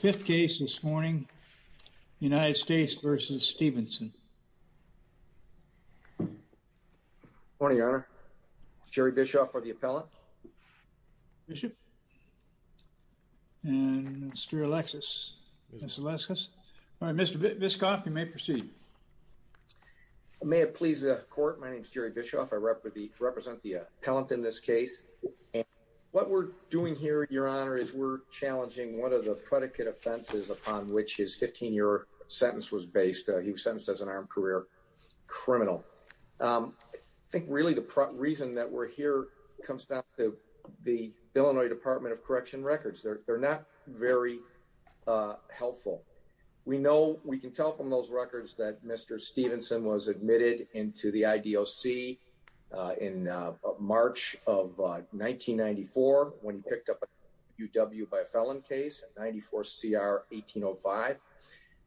Fifth case this morning, United States v. Stevenson Morning, Your Honor. Jerry Bischoff for the appellant. Bishop. And Mr. Alexis. All right, Mr. Bischoff, you may proceed. May it please the court, my name is Jerry Bischoff. I represent the appellant in this case. What we're doing here, Your Honor, is we're challenging one of the predicate offenses upon which his 15-year sentence was based. He was sentenced as an armed career criminal. I think really the reason that we're here comes back to the Illinois Department of Correction records. They're not very helpful. We know, we can tell from those records that Mr. Stevenson was admitted into the IDOC in March of 1994, when he picked up a UW by a felon case, 94 CR 1805.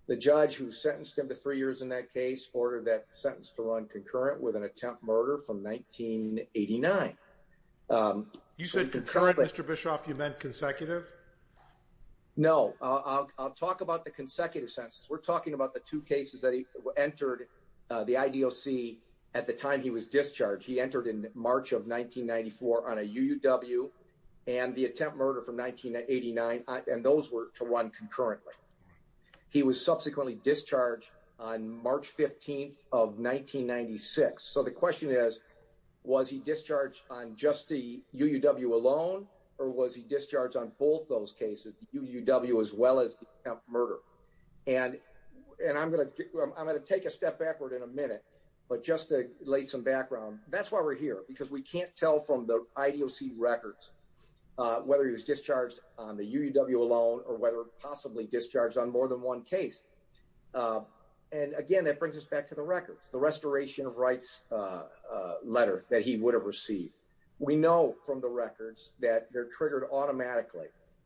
The judge who sentenced him to three years in that case ordered that sentence to run concurrent with an attempt murder from 1989. You said concurrent, Mr. Bischoff, you meant consecutive? No, I'll talk about the consecutive sentences. We're talking about the two cases that he entered the IDOC at the time he was discharged. He entered in March of 1994 on a UW and the attempt murder from 1989. And those were to run concurrently. He was subsequently discharged on March 15th of 1996. So the question is, was he discharged on just the UW alone? Or was he discharged on both those cases, the UW as well as the murder? And, and I'm going to, I'm going to take a step backward in a minute. But just to lay some background, that's why we're here, because we can't tell from the IDOC records, whether he was discharged on the UW alone, or whether possibly discharged on more than one case. And again, that brings us back to the records, the restoration of rights letter that he would have received. We know from the records that they're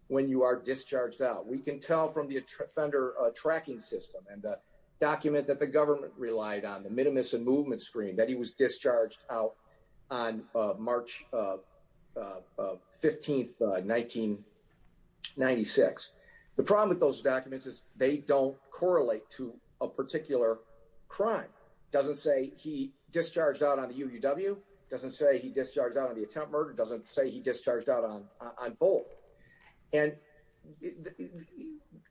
when you are discharged out, we can tell from the offender tracking system and the document that the government relied on the minimus and movement screen that he was discharged out on March 15th, 1996. The problem with those documents is they don't correlate to a particular crime. Doesn't say he discharged out on the UW doesn't say he discharged out on on both. And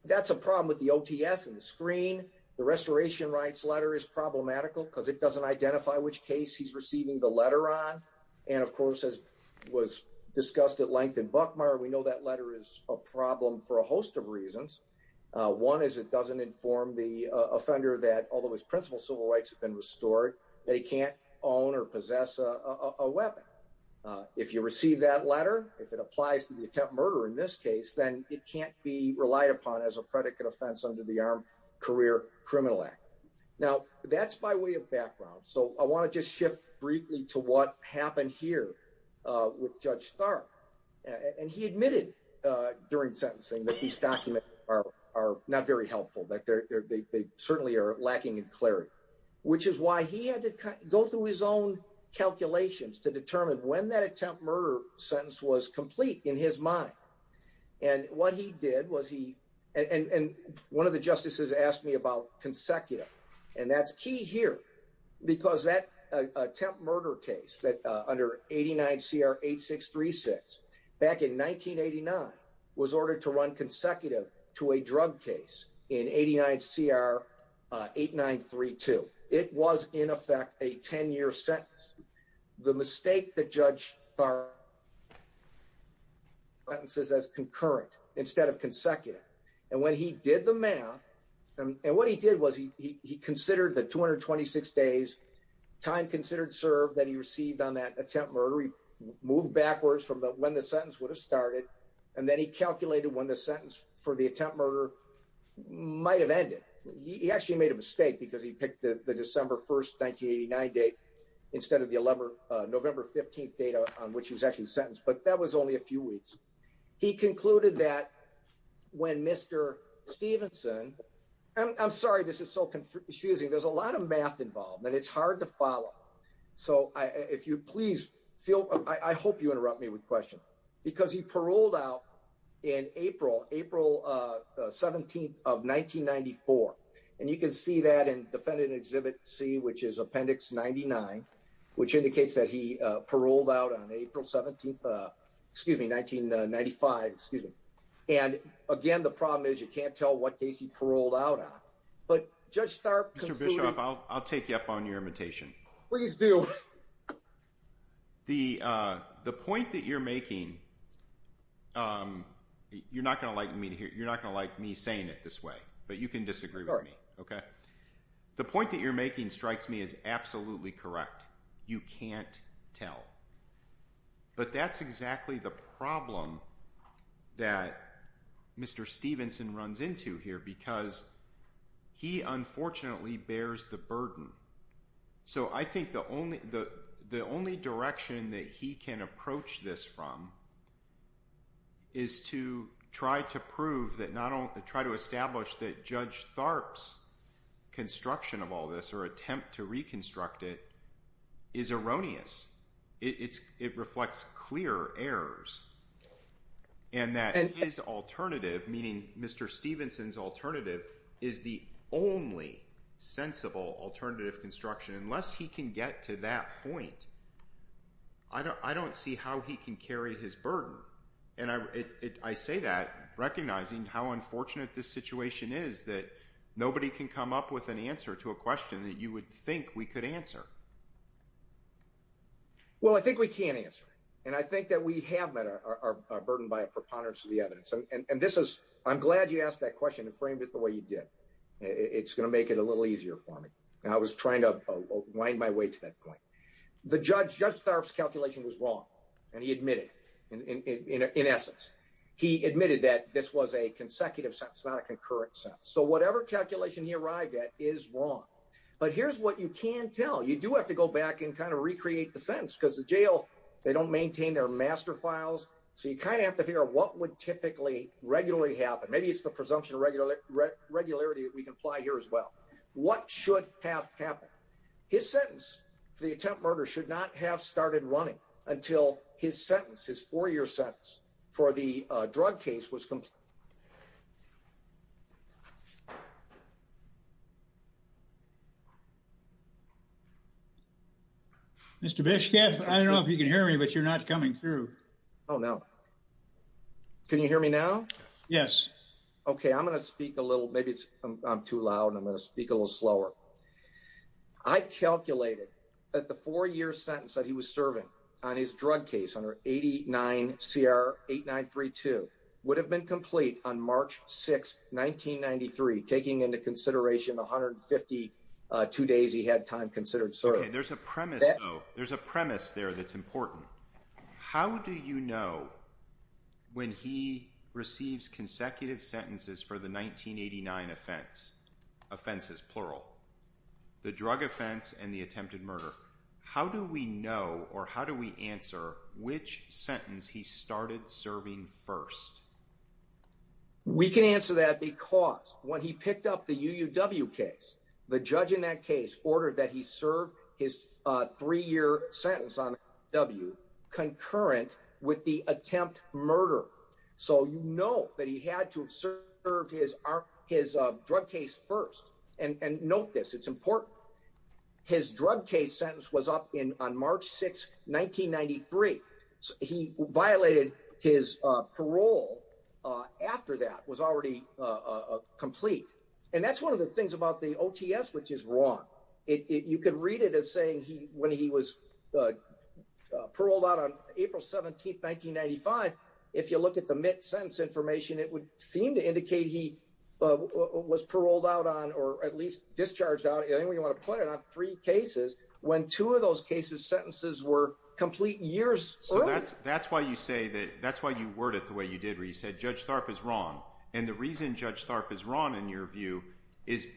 that's a problem with the OTS and the screen. The restoration rights letter is problematical because it doesn't identify which case he's receiving the letter on. And of course, as was discussed at length in Buckmeyer, we know that letter is a problem for a host of reasons. One is it doesn't inform the offender that although his principal civil rights have been restored, they can't own or possess a weapon. If you receive that letter, if it applies to the attempt murder in this case, then it can't be relied upon as a predicate offense under the Armed Career Criminal Act. Now, that's by way of background. So I want to just shift briefly to what happened here with Judge Tharpe. And he admitted during sentencing that these documents are not very clear, which is why he had to go through his own calculations to determine when that attempt murder sentence was complete in his mind. And what he did was he and one of the justices asked me about consecutive. And that's key here because that attempt murder case that under 89 CR 8636 back in 1989 was ordered to run consecutive to a drug case in 89 CR 8932. It was in effect a 10 year sentence. The mistake that Judge Tharpe sentences as concurrent instead of consecutive. And when he did the math and what he did was he considered the 226 days time considered served that he received on that attempt murder. He moved backwards from when the sentence would started. And then he calculated when the sentence for the attempt murder might have ended. He actually made a mistake because he picked the December 1st 1989 date instead of the 11 November 15th data on which he was actually sentenced. But that was only a few weeks. He concluded that when Mr Stevenson I'm sorry this is so confusing. There's a lot of math involved and it's hard to he paroled out in April April 17th of 1994. And you can see that in defendant exhibit C which is appendix 99 which indicates that he paroled out on April 17th excuse me 1995 excuse me. And again the problem is you can't tell what case he paroled out on. But Judge Tharpe Mr. Bischoff I'll I'll take you up on your making. You're not going to like me to hear. You're not going to like me saying it this way. But you can disagree. OK. The point that you're making strikes me is absolutely correct. You can't tell. But that's exactly the problem that Mr. Stevenson runs into here because he unfortunately bears the burden. So I is to try to prove that not only try to establish that Judge Tharpe's construction of all this or attempt to reconstruct it is erroneous. It's it reflects clear errors and that is alternative meaning Mr. Stevenson's alternative is the only sensible alternative construction unless he can get to that point. I don't I don't see how he can carry his burden. And I say that recognizing how unfortunate this situation is that nobody can come up with an answer to a question that you would think we could answer. Well I think we can answer. And I think that we have met our burden by a preponderance of the evidence. And this is I'm glad you asked that question and framed it the way you did. It's going to make it a little easier for me. I was trying to wind my way to that point. The judge Judge Tharpe's calculation was wrong and he admitted in essence he admitted that this was a consecutive sentence not a concurrent sentence. So whatever calculation he arrived at is wrong. But here's what you can't tell. You do have to go back and kind of recreate the sentence because the jail they don't maintain their master files. So you kind of have to figure out what would typically regularly happen. Maybe it's the presumption of regular regularity that we can apply here as well. What should have happened? His sentence for the attempt murder should not have started running until his sentences for your sentence for the drug case was complete. Mr. Bishop, I don't know if you can hear me, but you're not coming through. Oh no. Can you hear me now? Yes. Okay. I'm going to speak a little. Maybe I'm too loud. I'm going to speak a little slower. I've calculated that the four year sentence that he was serving on his drug case under 89 CR 8932 would have been complete on March 6th, 1993, taking into consideration 152 days he had time considered. So there's a premise. There's a premise there that's important. How do you know when he receives consecutive sentences for the 1989 offense offenses, plural, the drug offense and the attempted murder? How do we know? Or how do we answer which sentence he started serving first? We can answer that because when he picked up the U. W. Case, the judge in that case ordered that he served his three year sentence on W. Concurrent with the attempt murder. So you know that he had to serve his his drug case first and note this. It's important. His drug case sentence was up in on March 6th, 1993. He violated his parole after that was already complete. And that's one of the things about the O. T. S. Which is wrong. You could read it as saying he when he was, uh, paroled out on April 17th, 1995. If you look at the mid sentence information, it would seem to indicate he was paroled out on or at least discharged out. Anyway, you want to put it on three cases when two of those cases sentences were complete years. So that's that's why you say that. That's why you worded the way you did, where you said Judge Tharp is wrong. And the reason Judge Tharp is wrong, in your view, is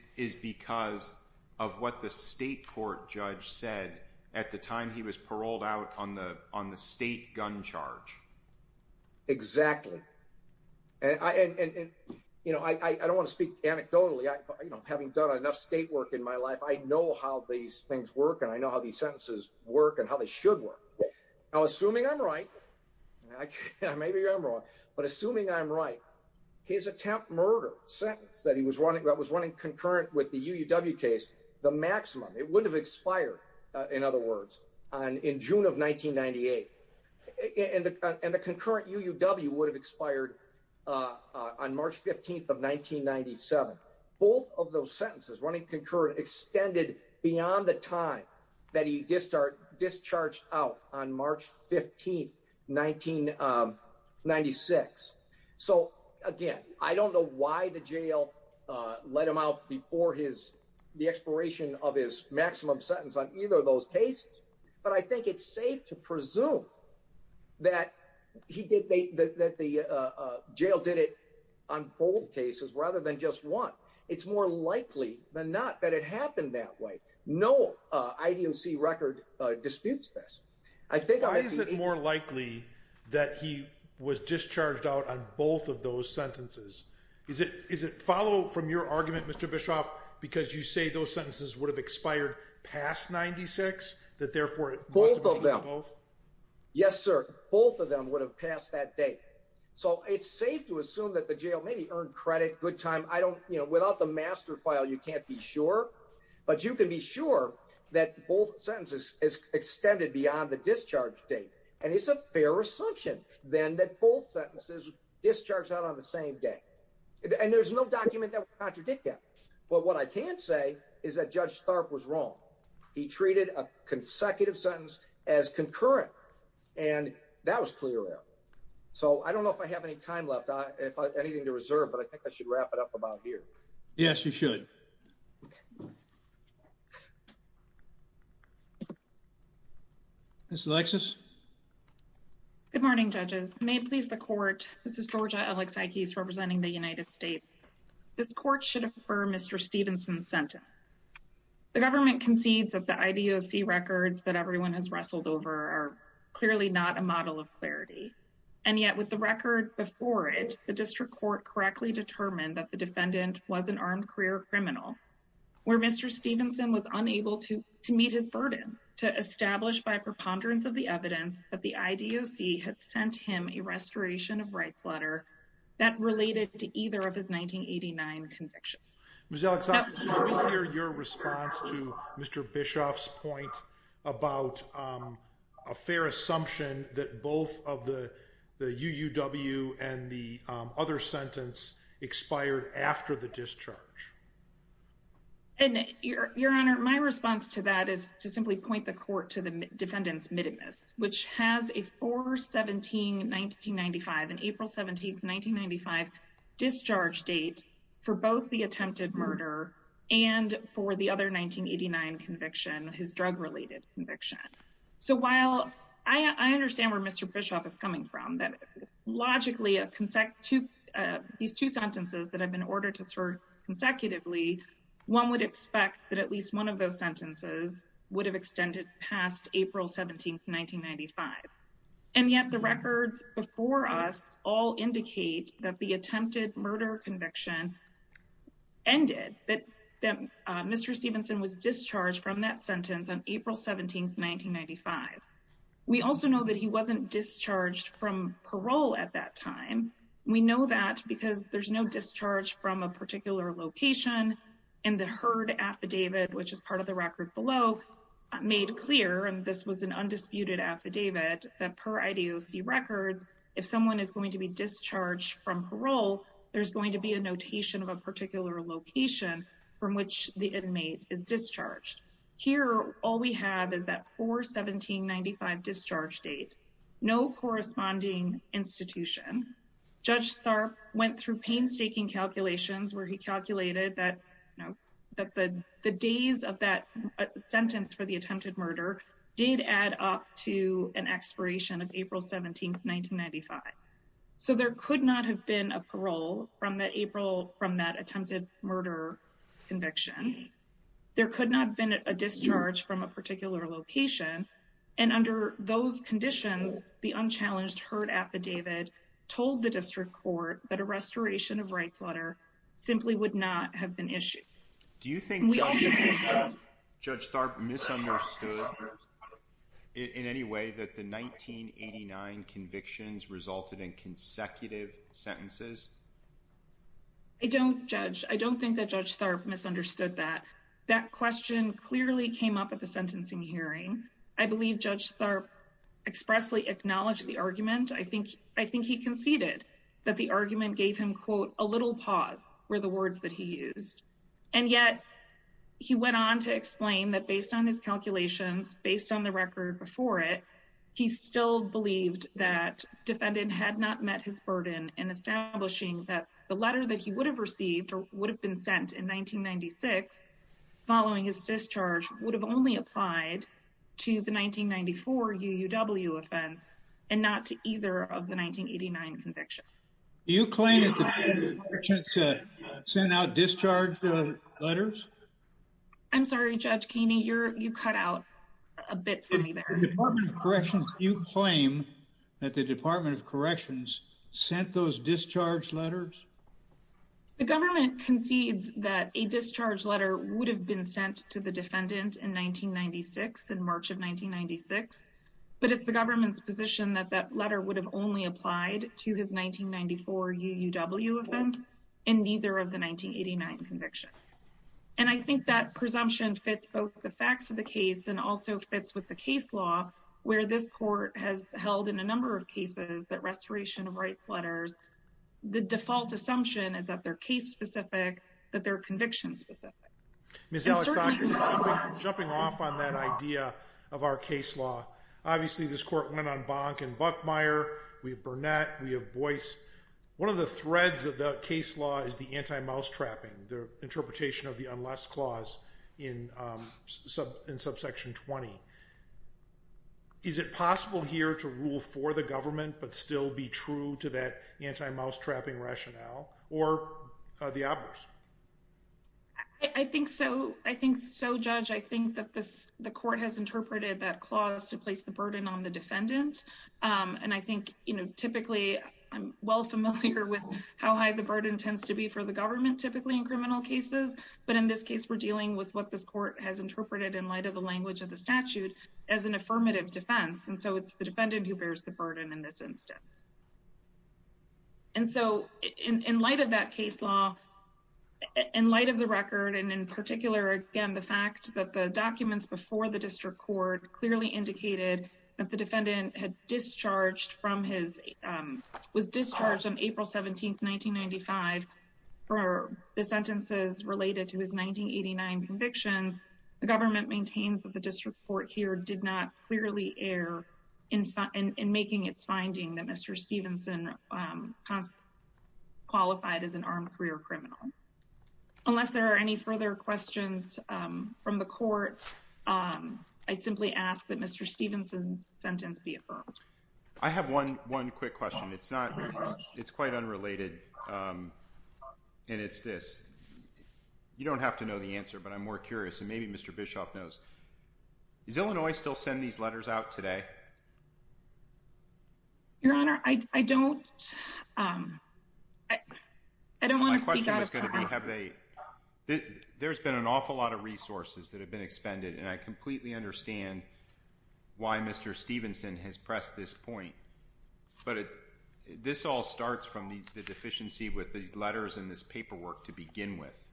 because of what the state court judge said at the time he was paroled out on the on the state gun charge. Exactly. And, you know, I don't want to speak anecdotally. You know, having done enough state work in my life, I know how these things work, and I know how these sentences work and how they should work. Now, assuming I'm right, maybe I'm wrong, but assuming I'm right, his attempt murder sentence that he was running that was running concurrent with the U. W. Case the maximum it would have expired. In other words, on in June of 1998 and the concurrent U. W. Would have expired on March 15th of 1997. Both of those sentences running concurrent extended beyond the time that he just start discharged out on March 15th 1996. So again, I don't know why the jail let him out before his the expiration of his maximum sentence on either of those cases. But I think it's safe to presume that he did that. The jail did it on both cases rather than just one. It's more likely than not that it happened that way. No, I don't see record disputes this. I think I is it more likely that he was discharged out on both of those sentences? Is it? Is it follow from your argument, Mr Bischoff? Because you say those sentences would have expired past 96 that therefore both of them? Yes, sir. Both of them would have passed that day. So it's safe to assume that the jail may be earned credit. Good time. I don't, you know, without the master file, you can't be sure. But you could be sure that both sentences extended beyond the discharge date. And it's a fair assumption then that both sentences discharged out on the same day. And there's no document that contradict that. But what I can't say is that Judge Stark was wrong. He treated a consecutive sentence as concurrent, and that was clear. So I don't know if I have any time left if anything to reserve. But I think I should wrap it up about here. Yes, you should. Miss Alexis. Good morning, judges. May it please the court. This is Georgia Alex Ikes representing the United States. This court should infer Mr Stevenson's sentence. The government concedes that the IDOC records that everyone has wrestled over are clearly not a model of clarity. And yet, with the record before it, the district court correctly determined that the defendant was an armed career criminal where Mr Stevenson was unable to to meet his burden to establish by preponderance of the evidence that the IDOC had sent him a restoration of rights letter that related to either of his 1989 conviction. Miss Alex, your response to Mr Bischoff's point about a fair assumption that both of the U. W. And the other sentence expired after the discharge. And your honor, my response to that is to simply point the court to the defendant's middleness, which has a 4 17 1995 and April 17th 1995 discharge date for both the attempted murder and for the other 1989 conviction, his drug related conviction. So while I understand where Mr Bischoff is coming from, that logically a consecutive these two sentences that have been ordered to serve consecutively, one would expect that at least one of those sentences would have extended past April 17th 1995. And yet the records before us all indicate that the attempted murder conviction ended that Mr Stevenson was discharged from that sentence on April 17th 1995. We also know that he wasn't discharged from parole at that time. We know that because there's no discharge from a particular location in the herd affidavit, which is part of the record below made clear. And this was an undisputed affidavit that per IDOC records, if someone is going to be discharged from parole, there's going to be a notation of a particular location from which the inmate is discharged. Here. All we have is that 4 17 95 discharge date. No corresponding institution. Judge Tharp went through painstaking calculations where he calculated that, you know, that the days of that sentence for the attempted murder did add up to an expiration of April 17th 1995. So there could not have been a parole from that April from that attempted murder conviction. There could not have been a discharge from a particular location. And under those conditions, the unchallenged herd affidavit told the district court that a restoration of rights letter simply would not have been issued. Do you think Judge Tharp misunderstood in any way that the 1989 convictions resulted in consecutive sentences? I don't judge. I don't think that Judge Tharp misunderstood that. That question clearly came up at the sentencing hearing. I believe Judge Tharp expressly acknowledged the argument. I think I think he conceded that the argument gave him quote a little pause were the words that he used. And yet he went on to explain that, based on his calculations, based on the record before it, he still believed that defendant had not met his burden in establishing that the letter that he would have received would have been sent in 1996 following his discharge would have only applied to the 1994 U. W. Offense and not to either of the 1989 conviction. Do you claim it sent out discharge letters? I'm sorry, Judge Keeney. You're you cut out a bit for me there. Corrections. You claim that the Department of sent those discharge letters. The government concedes that a discharge letter would have been sent to the defendant in 1996 in March of 1996. But it's the government's position that that letter would have only applied to his 1994 U. W. Offense and neither of the 1989 conviction. And I think that presumption fits both the facts of the case and also fits with the case law, where this court has held in a number of cases that restoration of rights letters the default assumption is that their case specific that their conviction specific Miss Alex jumping off on that idea of our case law. Obviously, this court went on bonk and Buckmeyer. We have Burnett. We have voice. One of the threads of the case law is the anti mouse trapping the interpretation of the unless clause in sub in subsection 20. Is it possible here to rule for the government but still be true to that anti mouse trapping rationale or the others? I think so. I think so, Judge. I think that the court has interpreted that clause to place the burden on the defendant on. I think, you know, typically I'm well familiar with how high the burden tends to be for the government, typically in criminal cases. But in this case, we're dealing with what this court has interpreted in light of the language of the statute as an affirmative defense. And so it's the defendant who bears the burden in this instance. And so in light of that case law, in light of the record and in particular, again, the fact that the documents before the district court clearly indicated that the defendant had discharged from his was discharged on 1989 convictions, the government maintains that the district court here did not clearly air in in making its finding that Mr Stevenson, um, qualified as an armed career criminal. Unless there are any further questions from the court, um, I simply ask that Mr Stevenson's sentence be affirmed. I have 11 quick question. It's not. It's quite unrelated. Um, and it's this. You don't have to know the answer, but I'm more curious. And maybe Mr Bischoff knows. Is Illinois still send these letters out today? Your Honor, I don't, um, I don't want to have a there's been an awful lot of resources that have been expended, and I completely understand why Mr Stevenson has pressed this point. But this all starts from the deficiency with these letters in this paperwork to begin with,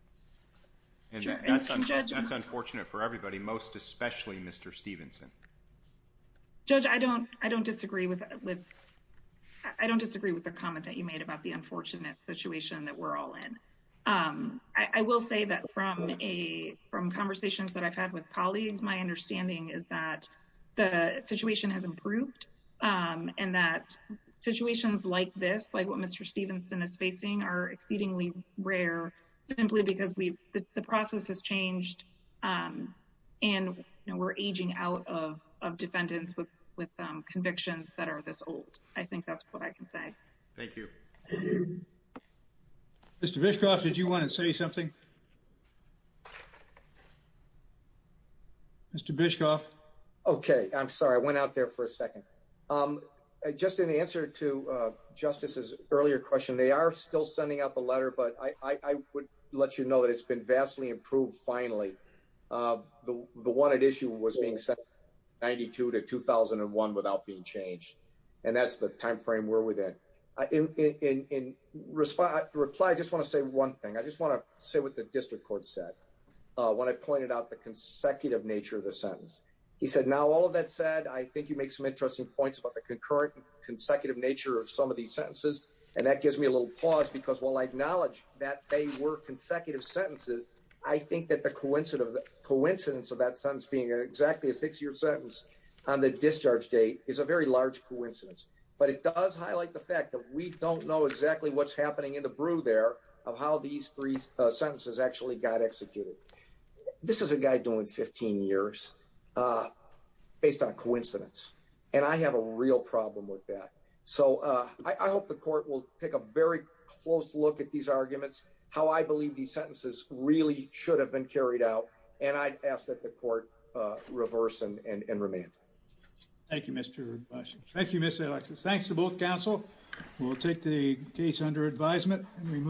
and that's that's unfortunate for everybody, most especially Mr Stevenson. Judge, I don't I don't disagree with. I don't disagree with the comment that you made about the unfortunate situation that we're all in. Um, I will say that from a from conversations that I've had with colleagues, my understanding is that the situation has improved on that situations like this, like what Mr Stevenson is facing are exceedingly rare simply because we the process has changed. Um, and we're aging out of defendants with convictions that are this old. I think that's what I can say. Thank you. Mr Bischoff, did you want to say something? Mr Bischoff. Okay, I'm sorry. I went out there for a second. Um, just in answer to Justice's earlier question, they are still sending out the letter, but I would let you know that it's been vastly improved. Finally, uh, the one at issue was being set 92 to 2001 without being changed, and that's the time frame where we're there in response. Reply. I just want to say one thing. I just want to say what the district court said when I pointed out the consecutive nature of the sentence, he said. Now, all of that said, I think you make some interesting points about the concurrent consecutive nature of some of these sentences, and that gives me a little pause because, well, I acknowledge that they were consecutive sentences. I think that the coincident of the coincidence of that sentence being exactly a six year sentence on the discharge date is a very large coincidence, but it does highlight the fact that we don't know exactly what's happening in the brew there of how these three sentences actually got executed. This is a guy doing 15 years, uh, based on coincidence, and I have a real problem with that. So I hope the court will take a very close look at these arguments, how I believe these sentences really should have been carried out, and I'd ask that the court reverse and remand. Thank you, Mr Bush. Thank you, Mr Alexis. Thanks to both Council will take the case under advisement and remove